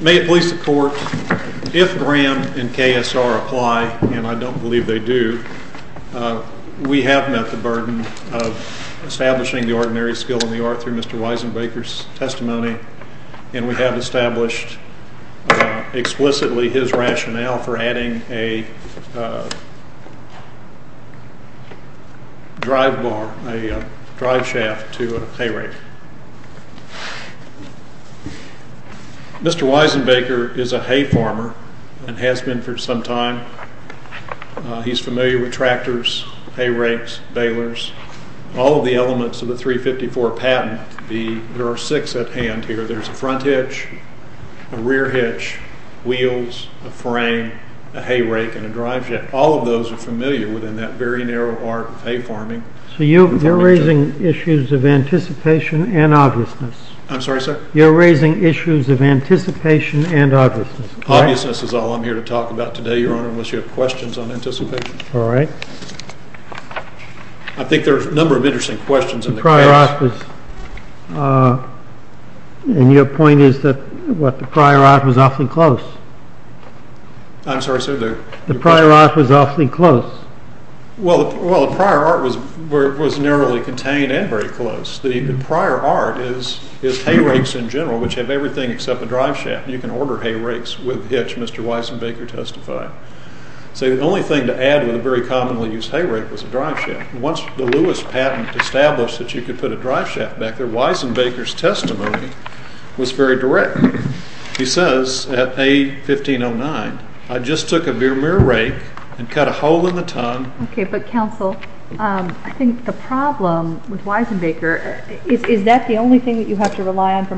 May it please the court, if Graham and KSR apply, and I don't believe they do, we have met the burden of establishing the ordinary skill in the art through Mr. Weisenbaker's established explicitly his rationale for adding a drive shaft to a hay rake. Mr. Weisenbaker is a hay farmer and has been for some time. He's familiar with tractors, hay rakes, balers, all of the elements of the 354 patent. There are six at hand here. There's a front hitch, a rear hitch, wheels, a frame, a hay rake, and a drive shaft. All of those are familiar within that very narrow art of hay farming. So you're raising issues of anticipation and obviousness. I'm sorry, sir? You're raising issues of anticipation and obviousness. Obviousness is all I'm here to talk about today, your honor, unless you have questions on it. I think there are a number of interesting questions. Your point is that the prior art was awfully close. I'm sorry, sir? The prior art was awfully close. Well, the prior art was narrowly contained and very close. The prior art is hay rakes in general, which have everything except a drive shaft. You can order hay rakes with hitch, Mr. Weisenbaker testified. So the only thing to add with a very commonly used hay rake was a drive shaft. Once the Lewis patent established that you could put a drive shaft back there, Weisenbaker's testimony was very direct. He says at A1509, I just took a mere rake and cut a hole in the tongue. Okay, but counsel, I think the problem with Weisenbaker, is that the only thing that you have to rely on for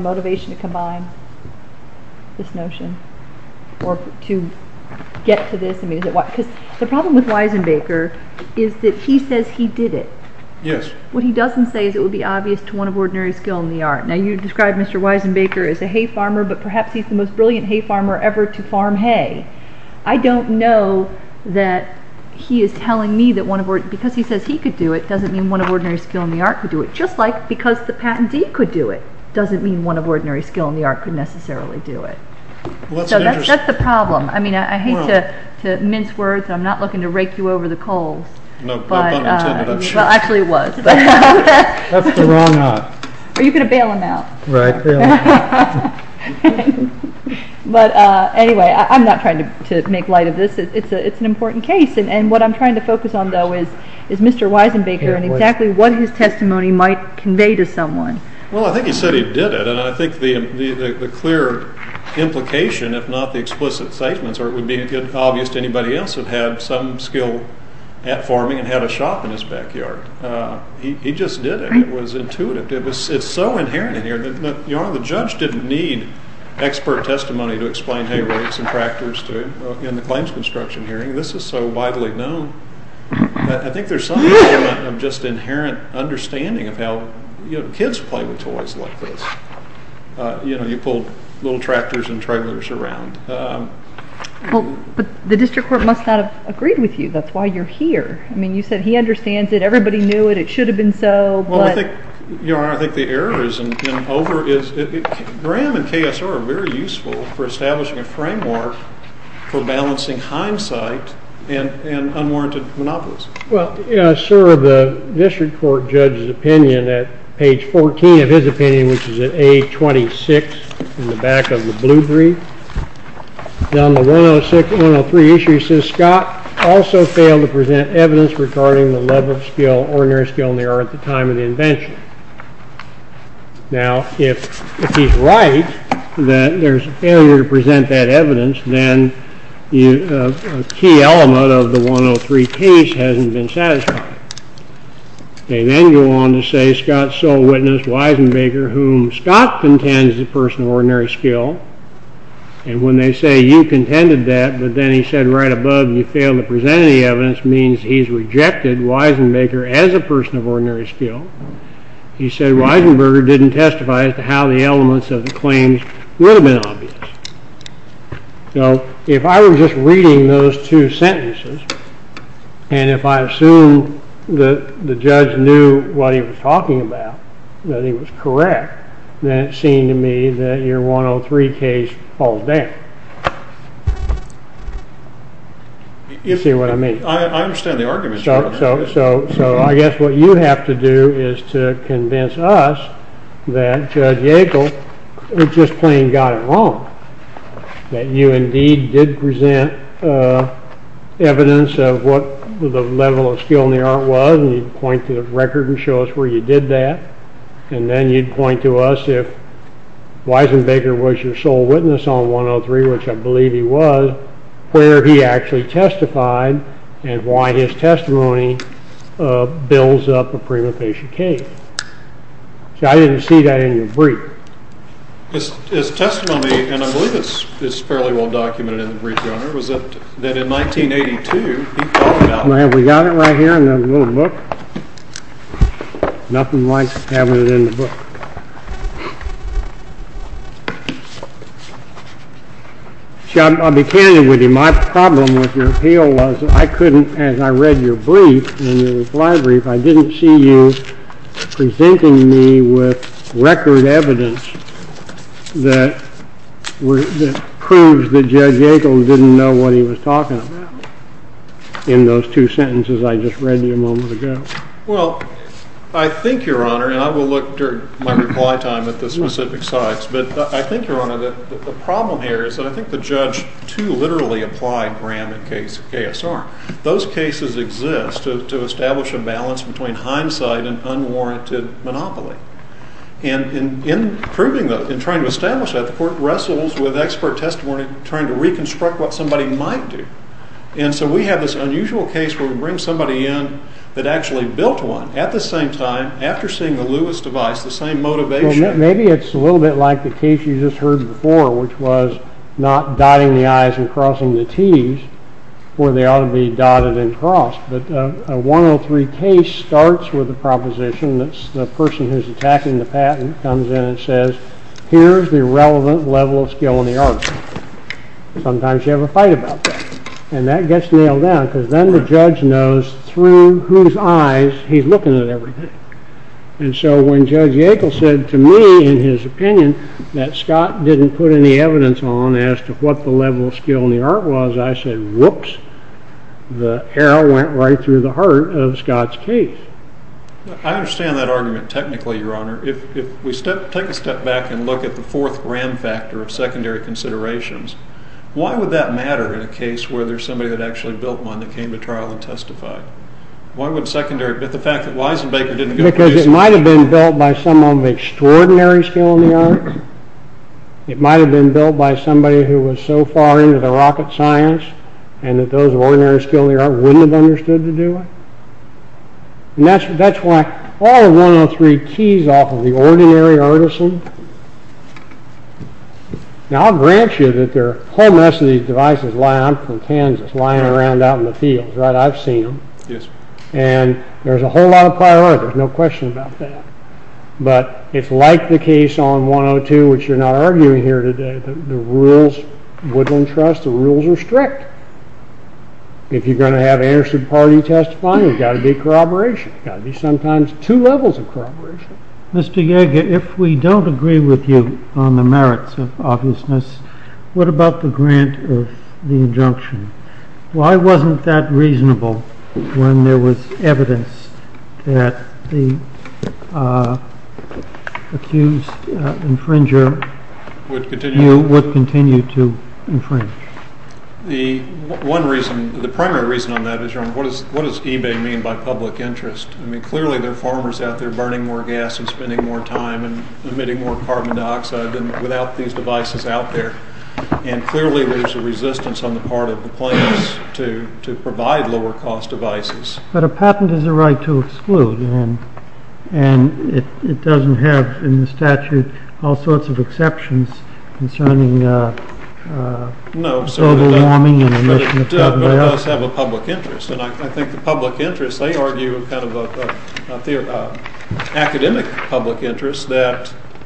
Weisenbaker is that he says he did it. Yes. What he doesn't say is it would be obvious to one of ordinary skill in the art. Now you described Mr. Weisenbaker as a hay farmer, but perhaps he's the most brilliant hay farmer ever to farm hay. I don't know that he is telling me that because he says he could do it doesn't mean one of ordinary skill in the art could do it. Just like because the patentee could do it doesn't mean one of ordinary skill in the art could necessarily do it. That's the problem. I mean, I hate to mince words. I'm not looking to rake you over the coals. Well, actually it was. Are you going to bail him out? Right. But anyway, I'm not trying to make light of this. It's an important case. And what I'm trying to focus on, though, is Mr. Weisenbaker and exactly what his testimony might convey to someone. Well, I think he said he did it. And I think the clear implication, if not the explicit statements, or it would be obvious to anybody else that had some skill at farming and had a shop in his backyard. He just did it. It was intuitive. It's so inherent in here. The judge didn't need expert testimony to explain hay rakes and tractors in the claims construction hearing. This is so like this. You know, you pull little tractors and trailers around. But the district court must not have agreed with you. That's why you're here. I mean, you said he understands it. Everybody knew it. It should have been so. Well, I think, Your Honor, I think the error has been over. Graham and KSR are very useful for establishing a framework for balancing hindsight and unwarranted monopolies. Well, sir, the district court judge's opinion at page 14 of his opinion, which is at A-26 in the back of the blue brief, down the 106-103 issue, says Scott also failed to present evidence regarding the level of skill, ordinary skill, in the art at the time of the invention. Now, if he's right that there's a failure to present that evidence, then a key element of the 103 case hasn't been satisfied. They then go on to say Scott's sole witness, Wisenbaker, whom Scott contends is a person of ordinary skill. And when they say you contended that, but then he said right above you failed to present any evidence means he's rejected Wisenbaker as a person of ordinary skill. He said Wisenberger didn't testify as to how the elements of the And if I assume that the judge knew what he was talking about, that he was correct, then it seemed to me that your 103 case falls down. You see what I mean? I understand the argument. So I guess what you have to do is to convince us that Judge Yackel just plain got it wrong, that you indeed did present evidence of what the level of skill in the art was, and you'd point to the record and show us where you did that, and then you'd point to us if Wisenbaker was your sole witness on 103, which I believe he was, where he actually testified and why his testimony builds up a prima facie case. See, I didn't see that in your brief. His testimony, and I believe it's fairly well documented in the brief, Your Honor, was that in 1982, he talked about it. May I have it? We got it right here in the little book. Nothing like having it in the book. See, I'll be candid with you. My problem with your appeal was I couldn't, as I read your brief and your reply brief, I didn't see you presenting me with record evidence that proves that Judge Yackel didn't know what he was talking about in those two sentences I just read to you a moment ago. Well, I think, Your Honor, and I will look during my reply time at the specific sites, but I think, Your Honor, that the problem here is that I think the judge too literally applied KSR. Those cases exist to establish a balance between hindsight and unwarranted monopoly. And in proving that, in trying to establish that, the court wrestles with expert testimony trying to reconstruct what somebody might do. And so we have this unusual case where we bring somebody in that actually built one at the same time, after seeing the Lewis device, the same motivation. Maybe it's a little bit like the case you just heard before, which was not dotting the I's and crossing the T's, where they ought to be dotted and crossed. But a 103 case starts with a proposition that's the person who's attacking the patent comes in and says, here's the relevant level of skill in the art. Sometimes you have a fight about that. And that gets nailed down because then the judge knows through whose eyes he's looking at everything. And so when Judge Yackel said to me, in his opinion, that Scott didn't put any evidence on as to what the level of skill in the art was, I said, whoops, the arrow went right through the heart of Scott's case. I understand that argument technically, Your Honor. If we take a step back and look at the fourth ram factor of secondary considerations, why would that matter in a case where there's somebody that actually built one that came to trial and testified? Why would secondary, but the fact that Weisenbaker didn't because it might have been built by someone of extraordinary skill in the art. It might have been built by somebody who was so far into the rocket science, and that those ordinary skill, they wouldn't have understood to do it. And that's, that's why all 103 keys off of the ordinary artisan. Now, I'll grant you that there are a whole mess of these devices, from Kansas, lying around out in the fields, right? I've seen them. Yes. And there's a whole lot of priority. There's no question about that. But it's like the case on 102, which you're not arguing here today, the rules, Woodland Trust, the rules are strict. If you're going to have an interested party testifying, there's got to be corroboration, got to be sometimes two levels of corroboration. Mr. Yeager, if we don't agree with you on the merits of obviousness, what about the grant of the injunction? Why wasn't that reasonable, when there was evidence that the accused infringer would continue to infringe? The one reason, the primary reason on that is, your honor, what is what does eBay mean by public interest? I mean, clearly, they're farmers out there burning more gas and spending more time and emitting more carbon dioxide than without these devices out there. And clearly, there's a resistance on the part of the plans to provide lower cost devices. But a patent is a right to exclude. And it doesn't have in the statute, all sorts of exceptions concerning global warming. No, but it does have a public interest. And I think,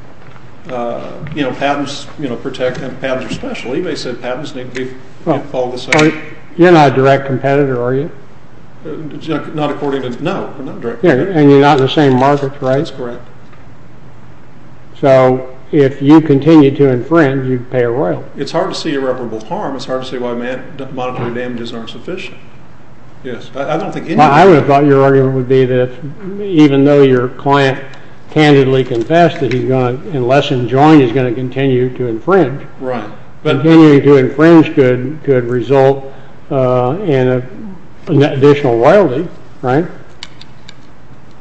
you know, patents, you know, protect and patents are special. eBay said patents need to be all the same. You're not a direct competitor, are you? Not according to, no. And you're not in the same market, right? That's correct. So if you continue to infringe, you'd pay a royal. It's hard to see irreparable harm. It's hard to see why monetary damages aren't sufficient. Yes, I don't think. I would have thought your argument would be that even though your client candidly confessed that he's going to, unless enjoined, he's going to continue to infringe. Right. But continuing to infringe could result in an additional royalty, right?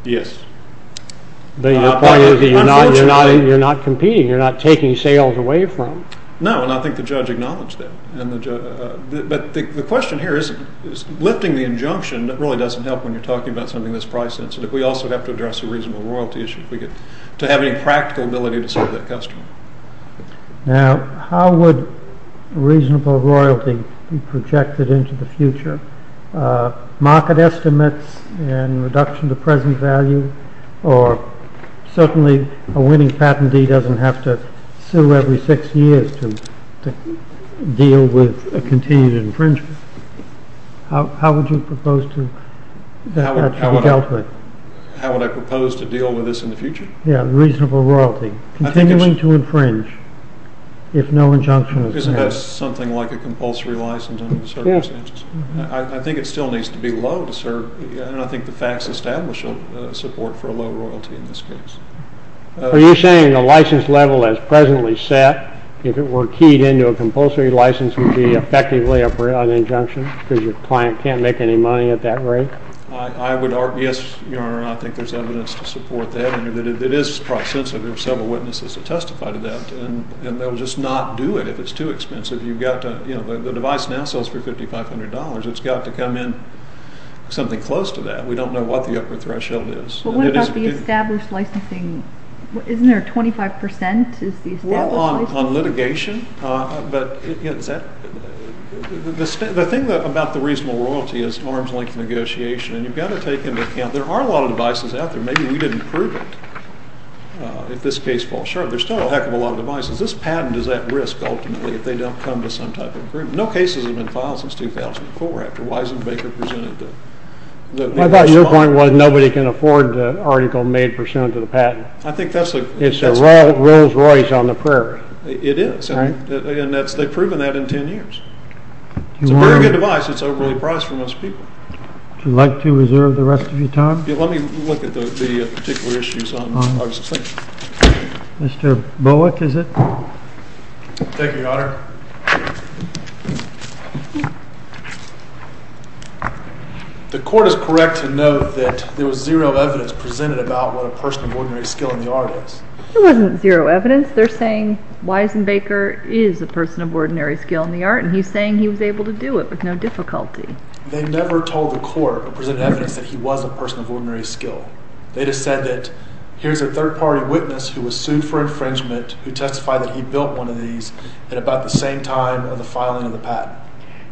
Yes. But your point is that you're not competing. You're not taking sales away from. No. And I think the judge acknowledged that. But the question here is, lifting the injunction really doesn't help when you're talking about something that's price sensitive. We also have to address a reasonable royalty issue if we get to have any practical ability to serve that customer. Now, how would reasonable royalty be projected into the future? Market estimates and reduction to present value, or certainly a winning patentee doesn't have to sue every six years to deal with this in the future. Yeah, reasonable royalty. Continuing to infringe if no injunction is passed. Isn't that something like a compulsory license under certain circumstances? I think it still needs to be low to serve. And I think the facts establish a support for a low royalty in this case. Are you saying the license level as presently set, if it were keyed into a compulsory license, would be effectively an injunction because your client can't make any money at that rate? I would argue, yes, Your Honor, I think there's evidence to support that. And it is price sensitive. Several witnesses have testified to that. And they'll just not do it if it's too expensive. You've got to, you know, the device now sells for $5,500. It's got to come in something close to that. We don't know what the upper threshold is. But what about the established licensing? Isn't there 25% is the established licensing? On litigation? But the thing about the reasonable royalty is arms-length negotiation. And you've got to take into account there are a lot of devices out there. Maybe we didn't prove it. If this case falls short, there's still a heck of a lot of devices. This patent is at risk, ultimately, if they don't come to some type of agreement. No cases have been filed since 2004 after Wisenbaker presented the... I thought your point was nobody can afford the article made to the patent. I think that's... It's a Rolls-Royce on the prerogative. It is. And they've proven that in 10 years. It's a very good device. It's overly priced for most people. Would you like to reserve the rest of your time? Let me look at the particular issues on August 6th. Mr. Bullock, is it? Thank you, Your Honor. The court is correct to note that there was zero evidence presented about what a person of ordinary skill in the art is. It wasn't zero evidence. They're saying Wisenbaker is a person of ordinary skill in the art, and he's saying he was able to do it with no difficulty. They never told the court or presented evidence that he was a person of ordinary skill. They just said that here's a third-party witness who was sued for infringement, who testified that same time of the filing of the patent.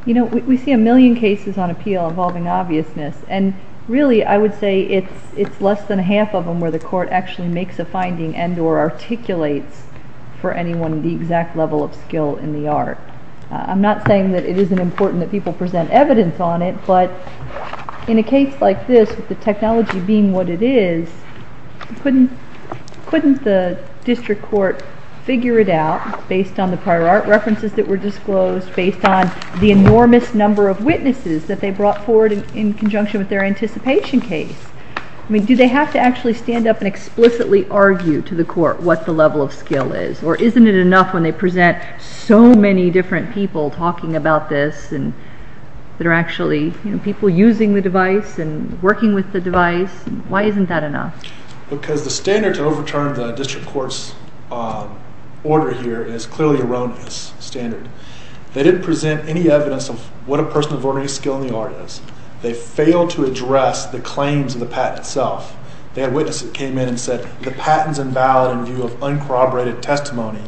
You know, we see a million cases on appeal involving obviousness, and really, I would say it's less than half of them where the court actually makes a finding and or articulates for anyone the exact level of skill in the art. I'm not saying that it isn't important that people present evidence on it, but in a case like this, with the technology being what it is, couldn't the district court figure it out based on the prior art references that were disclosed, based on the enormous number of witnesses that they brought forward in conjunction with their anticipation case? I mean, do they have to actually stand up and explicitly argue to the court what the level of skill is, or isn't it enough when they present so many different people talking about this and that are actually, you know, people using the device? Why isn't that enough? Because the standard to overturn the district court's order here is clearly erroneous, standard. They didn't present any evidence of what a person of ordinary skill in the art is. They failed to address the claims of the patent itself. They had witnesses that came in and said, the patent's invalid in view of uncorroborated testimony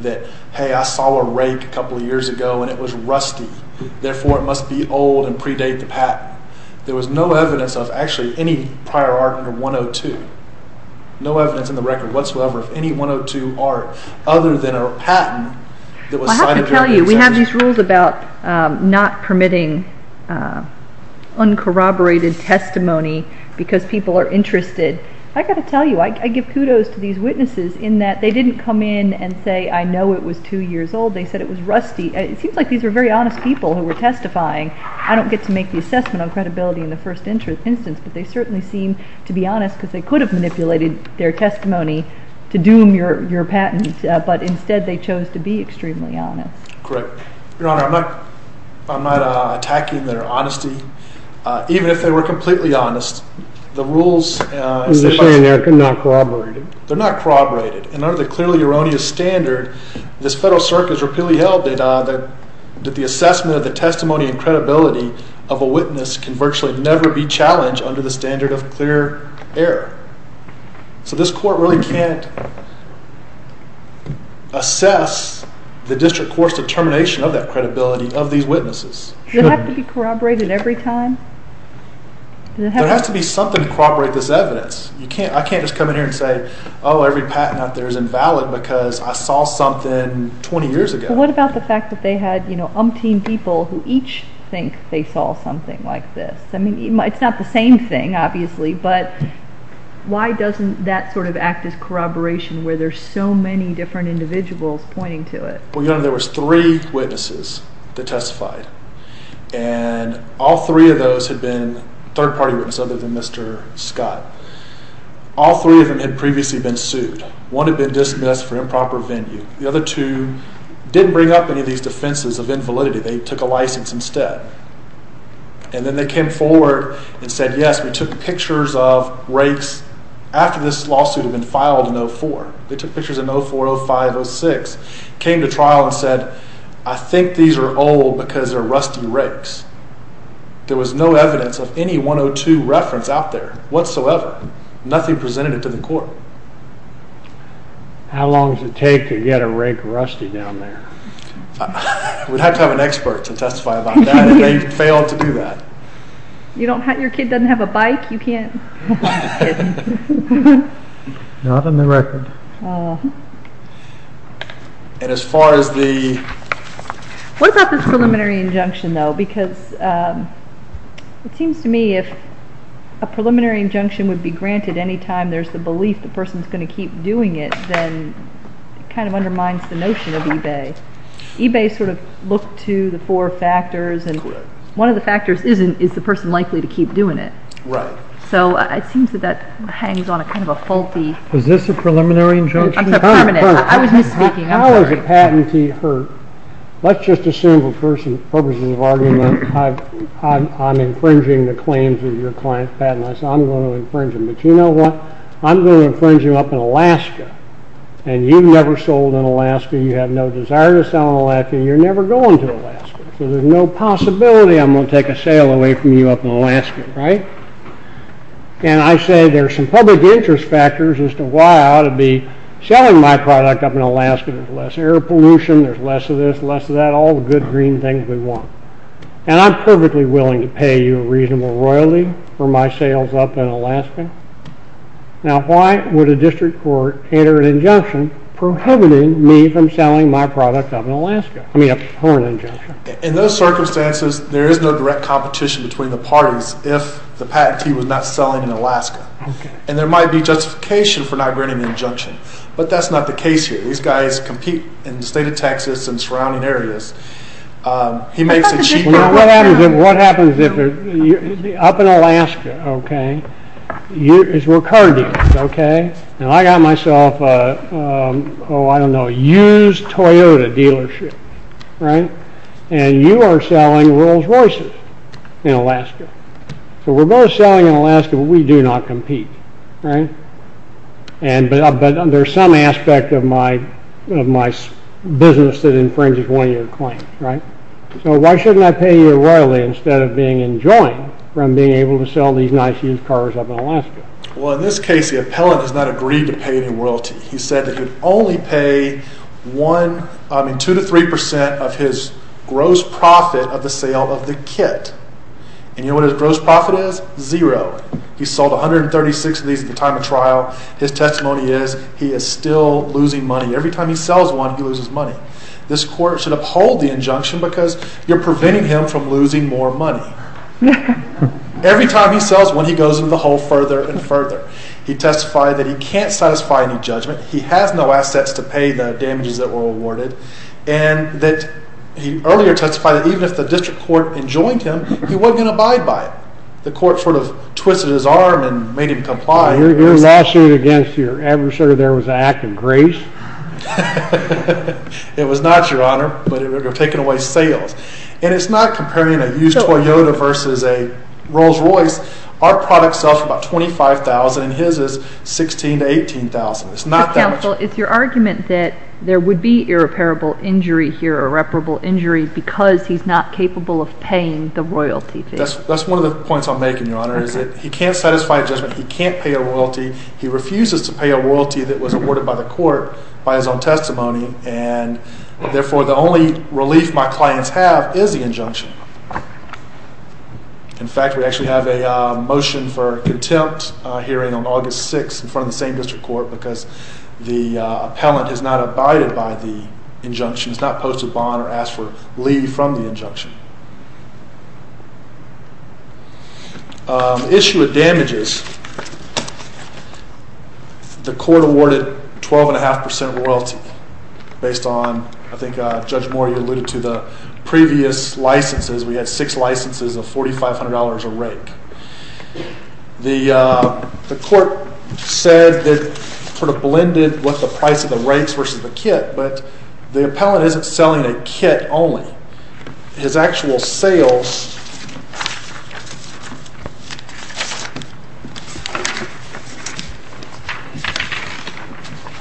that, hey, I saw a rake a couple of years ago, and it was rusty. Therefore, it must be old and predate the patent. There was no evidence of actually any prior art under 102. No evidence in the record whatsoever of any 102 art other than a patent that was cited during the examination. I have to tell you, we have these rules about not permitting uncorroborated testimony because people are interested. I got to tell you, I give kudos to these witnesses in that they didn't come in and say, I know it was two years old. They said it was rusty. It seems like these are very honest people who were testifying. I don't get to make the assessment on credibility in the first instance, but they certainly seem to be honest because they could have manipulated their testimony to doom your patent, but instead they chose to be extremely honest. Correct. Your Honor, I'm not attacking their honesty. Even if they were completely honest, the rules... They're saying they're not corroborated. They're not corroborated, and under the clearly erroneous standard, this Federal Circuit has of a witness can virtually never be challenged under the standard of clear error. So this court really can't assess the district court's determination of that credibility of these witnesses. Does it have to be corroborated every time? There has to be something to corroborate this evidence. I can't just come in here and say, oh, every patent out there is invalid because I saw something 20 years ago. What about the fact that they had umpteen people who each think they saw something like this? I mean, it's not the same thing, obviously, but why doesn't that sort of act as corroboration where there's so many different individuals pointing to it? Well, Your Honor, there was three witnesses that testified, and all three of those had been third-party witnesses other than Mr. Scott. All three of them had previously been sued. One had been dismissed for improper venue. The other two didn't bring up any of these defenses of invalidity. They took a license instead. And then they came forward and said, yes, we took pictures of rakes after this lawsuit had been filed in 04. They took pictures in 04, 05, 06, came to trial and said, I think these are old because they're rusty rakes. There was no evidence of any 102 reference out there whatsoever. Nothing presented it to the court. So how long does it take to get a rake rusty down there? We'd have to have an expert to testify about that, and they failed to do that. You don't have, your kid doesn't have a bike? You can't? Not on the record. And as far as the... What about this preliminary injunction, though? Because it seems to me if a preliminary injunction would be granted anytime there's the belief the person's going to keep doing it, then it kind of undermines the notion of eBay. eBay sort of looked to the four factors, and one of the factors isn't, is the person likely to keep doing it? Right. So it seems that that hangs on a kind of a faulty... Is this a preliminary injunction? I'm sorry, permanent. I was misspeaking. How is a patentee hurt? Let's just assume for purposes of argument, I'm infringing the claims of your client patent. I'm going to infringe them, but you know what? I'm going to infringe you up in Alaska, and you've never sold in Alaska, you have no desire to sell in Alaska, you're never going to Alaska. So there's no possibility I'm going to take a sale away from you up in Alaska, right? And I say there's some public interest factors as to why I ought to be selling my product up in Alaska. There's less air pollution, there's less of this, less of that, all the good green things we want. And I'm perfectly willing to pay you a reasonable royalty for my sales up in Alaska. Now, why would a district court enter an injunction prohibiting me from selling my product up in Alaska? I mean, up for an injunction. In those circumstances, there is no direct competition between the parties if the patentee was not selling in Alaska. And there might be justification for not granting the injunction, but that's not the case here. These guys compete in the state of Texas and surrounding areas. He makes a cheap... Well, what happens if, what happens if, up in Alaska, okay, it's recurrent dealers, okay? And I got myself a, oh, I don't know, a used Toyota dealership, right? And you are selling Rolls Royces in Alaska. So we're both selling in Alaska, but we do not compete, right? And, but there's some aspect of my, of my business that infringes one of your claims, right? So why shouldn't I pay you a royalty instead of being enjoined from being able to sell these nice used cars up in Alaska? Well, in this case, the appellant has not agreed to pay any royalty. He said that he'd only pay one, I mean, two to three percent of his gross profit of the sale of the kit. And you know what his gross profit is? Zero. He sold 136 of these at the time of trial. His testimony is he is still losing money. Every time he sells one, he loses money. This court should uphold the injunction because you're preventing him from losing more money. Every time he sells one, he goes into the hole further and further. He testified that he can't satisfy any judgment. He has no assets to pay the damages that were awarded. And that he earlier testified that even if the district court enjoined him, he wasn't going to abide by it. The court sort of twisted his arm and made him comply. Your lawsuit against your adversary there was an act of grace? It was not, your honor, but it would have taken away sales. And it's not comparing a used Toyota versus a Rolls Royce. Our product sells for about $25,000 and his is $16,000 to $18,000. It's not that much. Counsel, it's your argument that there would be irreparable injury here, irreparable That's one of the points I'm making, your honor, is that he can't satisfy judgment. He can't pay a royalty. He refuses to pay a royalty that was awarded by the court by his own testimony. And therefore, the only relief my clients have is the injunction. In fact, we actually have a motion for contempt hearing on August 6th in front of the same district court because the appellant has not abided by the injunction. He's not posted bond or asked for leave from the injunction. Issue of damages. The court awarded 12.5% royalty based on, I think Judge Moore, you alluded to the previous licenses. We had six licenses of $4,500 a rake. The court said that sort of blended what the price of the rakes versus the kit, but the appellant isn't selling a kit only. His actual sales,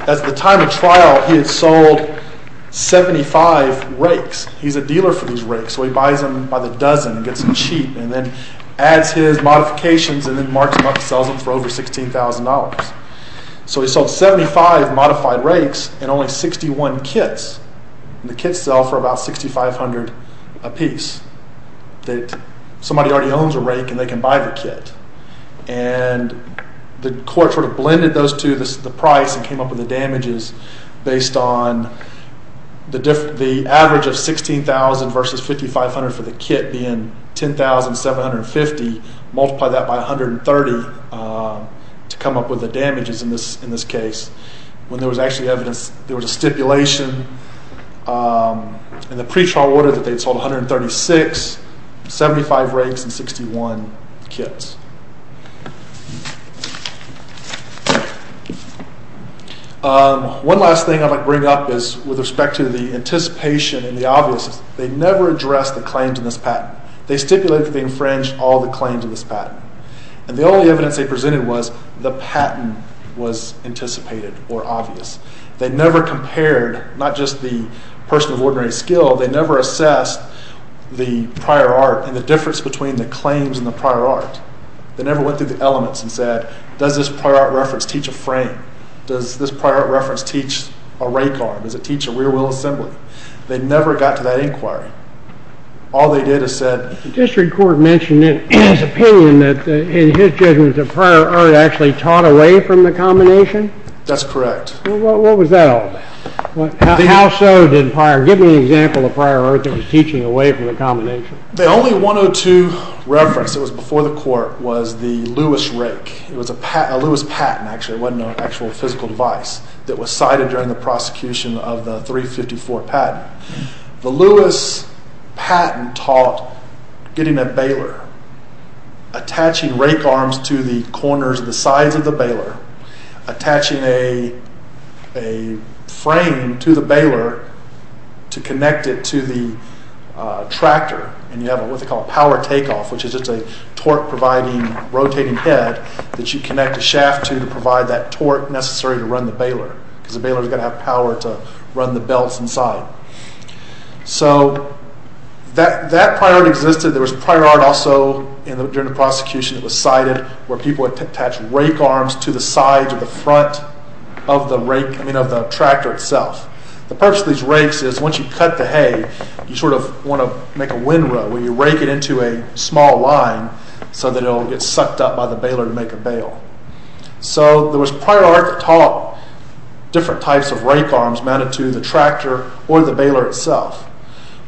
at the time of trial, he had sold 75 rakes. He's a dealer for these rakes, so he buys them by the dozen and gets them cheap and then adds his modifications and then marks them up and sells them for over $16,000. So he sold 75 modified rakes and only 61 kits. The kits sell for about $6,500 a piece that somebody already owns a rake and they can buy the kit. And the court sort of blended those two, the price, and came up with the damages based on the average of $16,000 versus $5,500 for the kit being $10,750, multiply that by $130 to come up with the damages in this case. When there was actually evidence, there was a stipulation in the pre-trial order that they'd sold 136, 75 rakes, and 61 kits. One last thing I'd like to bring up is with respect to the anticipation and the obvious, they never addressed the claims in this patent. They stipulated that they infringed all the claims in this patent. And the only evidence they presented was the patent was anticipated or obvious. They never compared, not just the person of ordinary skill, they never assessed the prior art and the difference between the claims and the prior art. They never went through the elements and said, does this prior art reference teach a frame? Does this prior art teach a rake arm? Does it teach a rear wheel assembly? They never got to that inquiry. All they did is said... The district court mentioned in his opinion that, in his judgment, the prior art actually taught away from the combination? That's correct. What was that all about? How so did prior... Give me an example of prior art that was teaching away from the combination. The only 102 reference that was before the court was the Lewis rake. It was a Lewis patent, actually. It wasn't an actual physical device that was cited during the prosecution of the 354 patent. The Lewis patent taught getting a baler, attaching rake arms to the corners of the sides of the baler, attaching a frame to the baler to connect it to the tractor, and you have what they call a power takeoff, which is just a torque providing rotating head that you connect a shaft to to provide that torque necessary to run the baler because the baler is going to have power to run the belts inside. So that prior art existed. There was prior art also during the prosecution that was cited where people would attach rake arms to the sides of the front of the rake, I mean, of the tractor itself. The purpose of these rakes is once you cut the hay, you sort of want to make a windrow where you rake it into a small line so that it'll get sucked up by the baler to make a windrow. So there was prior art that taught different types of rake arms mounted to the tractor or the baler itself.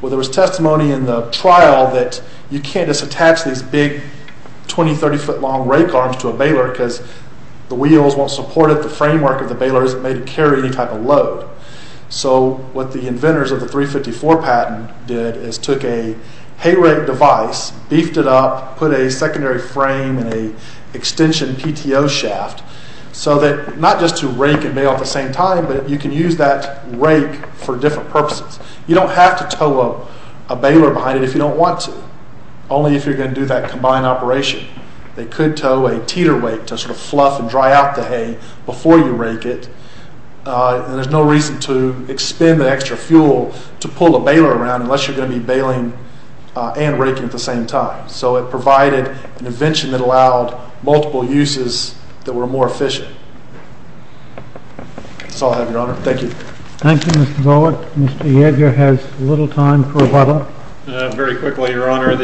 Well, there was testimony in the trial that you can't just attach these big 20-30 foot long rake arms to a baler because the wheels won't support it, the framework of the baler isn't made to carry any type of load. So what the inventors of the 354 patent did is a hay rake device, beefed it up, put a secondary frame and a extension PTO shaft so that not just to rake and bale at the same time, but you can use that rake for different purposes. You don't have to tow a baler behind it if you don't want to, only if you're going to do that combined operation. They could tow a teeter weight to sort of fluff and dry out the hay before you rake it, and there's no reason to expend the extra fuel to pull a baler around unless you're going to be baling and raking at the same time. So it provided an invention that allowed multiple uses that were more efficient. That's all I have, your honor. Thank you. Thank you, Mr. Bullock. Mr. Yeager has little time for rebuttal. Very quickly, your honor.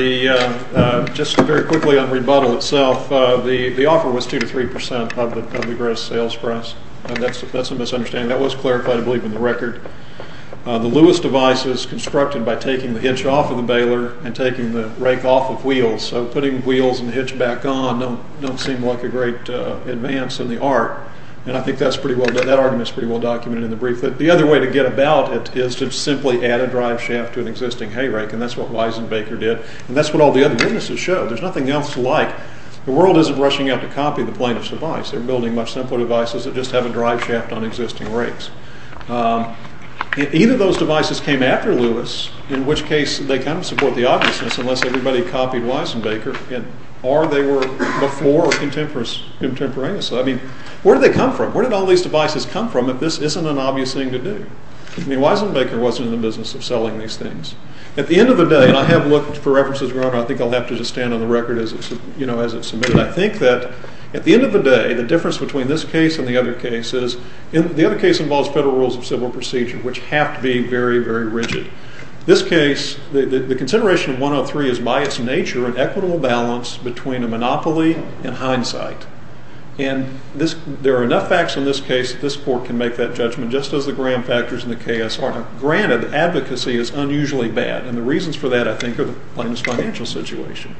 Just very quickly on rebuttal itself, the offer was 2 to 3 percent of the gross sales price. That's a misunderstanding. That was clarified, I believe, in the record. The Lewis device is constructed by taking the hitch off of the baler and taking the rake off of wheels, so putting wheels and hitch back on don't seem like a great advance in the art, and I think that argument is pretty well documented in the brief. The other way to get about it is to simply add a drive shaft to an existing hay rake, and that's what Wiesenbaker did, and that's what all the other businesses showed. There's nothing else to like. The world isn't rushing out to copy the plaintiff's device. They're building much simpler devices that just have a drive shaft on existing rakes. Either of those devices came after Lewis, in which case they kind of support the obviousness, unless everybody copied Wiesenbaker, or they were before or contemporaneously. I mean, where did they come from? Where did all these devices come from if this isn't an obvious thing to do? I mean, Wiesenbaker wasn't in the business of selling these things. At the end of the day, and I have looked for references, your honor, I think I'll have to just stand on the record as it's, you know, as it's submitted. I think that at the end of the day, the difference between this case and the other cases, the other case involves federal rules of civil procedure, which have to be very, very rigid. This case, the consideration of 103 is by its nature an equitable balance between a monopoly and hindsight, and there are enough facts in this case that this court can make that judgment, just as the Graham factors and the KSR. Granted, advocacy is unusually bad, and the reasons for that, I think, are the plaintiff's financial situation.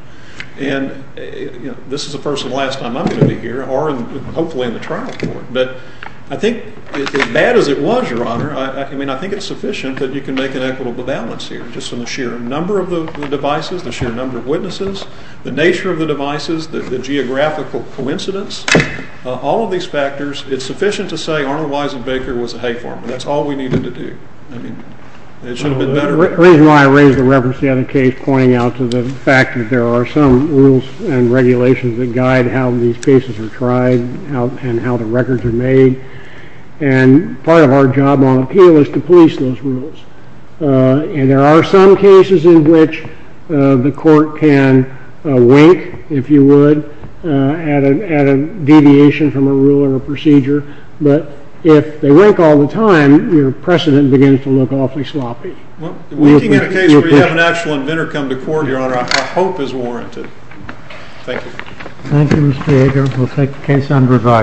And, you know, this is the first and last time I'm going to be here, or hopefully in the trial court, but I think as bad as it was, your honor, I mean, I think it's sufficient that you can make an equitable balance here, just from the sheer number of the devices, the sheer number of witnesses, the nature of the devices, the geographical coincidence, all of these factors, it's sufficient to say Arnold Wiesenbaker was a hay farmer. That's all we needed to do. I mean, it should have been better. The reason why I raised the reference to the other case, pointing out to the fact that there are some rules and regulations that guide how these cases are tried and how the records are made, and part of our job on appeal is to police those rules. And there are some cases in which the court can wink, if you would, at a deviation from a rule or a procedure, but if they wink all the time, your precedent begins to look awfully sloppy. Winking at a case where you have an actual inventor come to court, your honor, I hope is warranted. Thank you. Thank you, Mr. Hager. We'll take the case on review.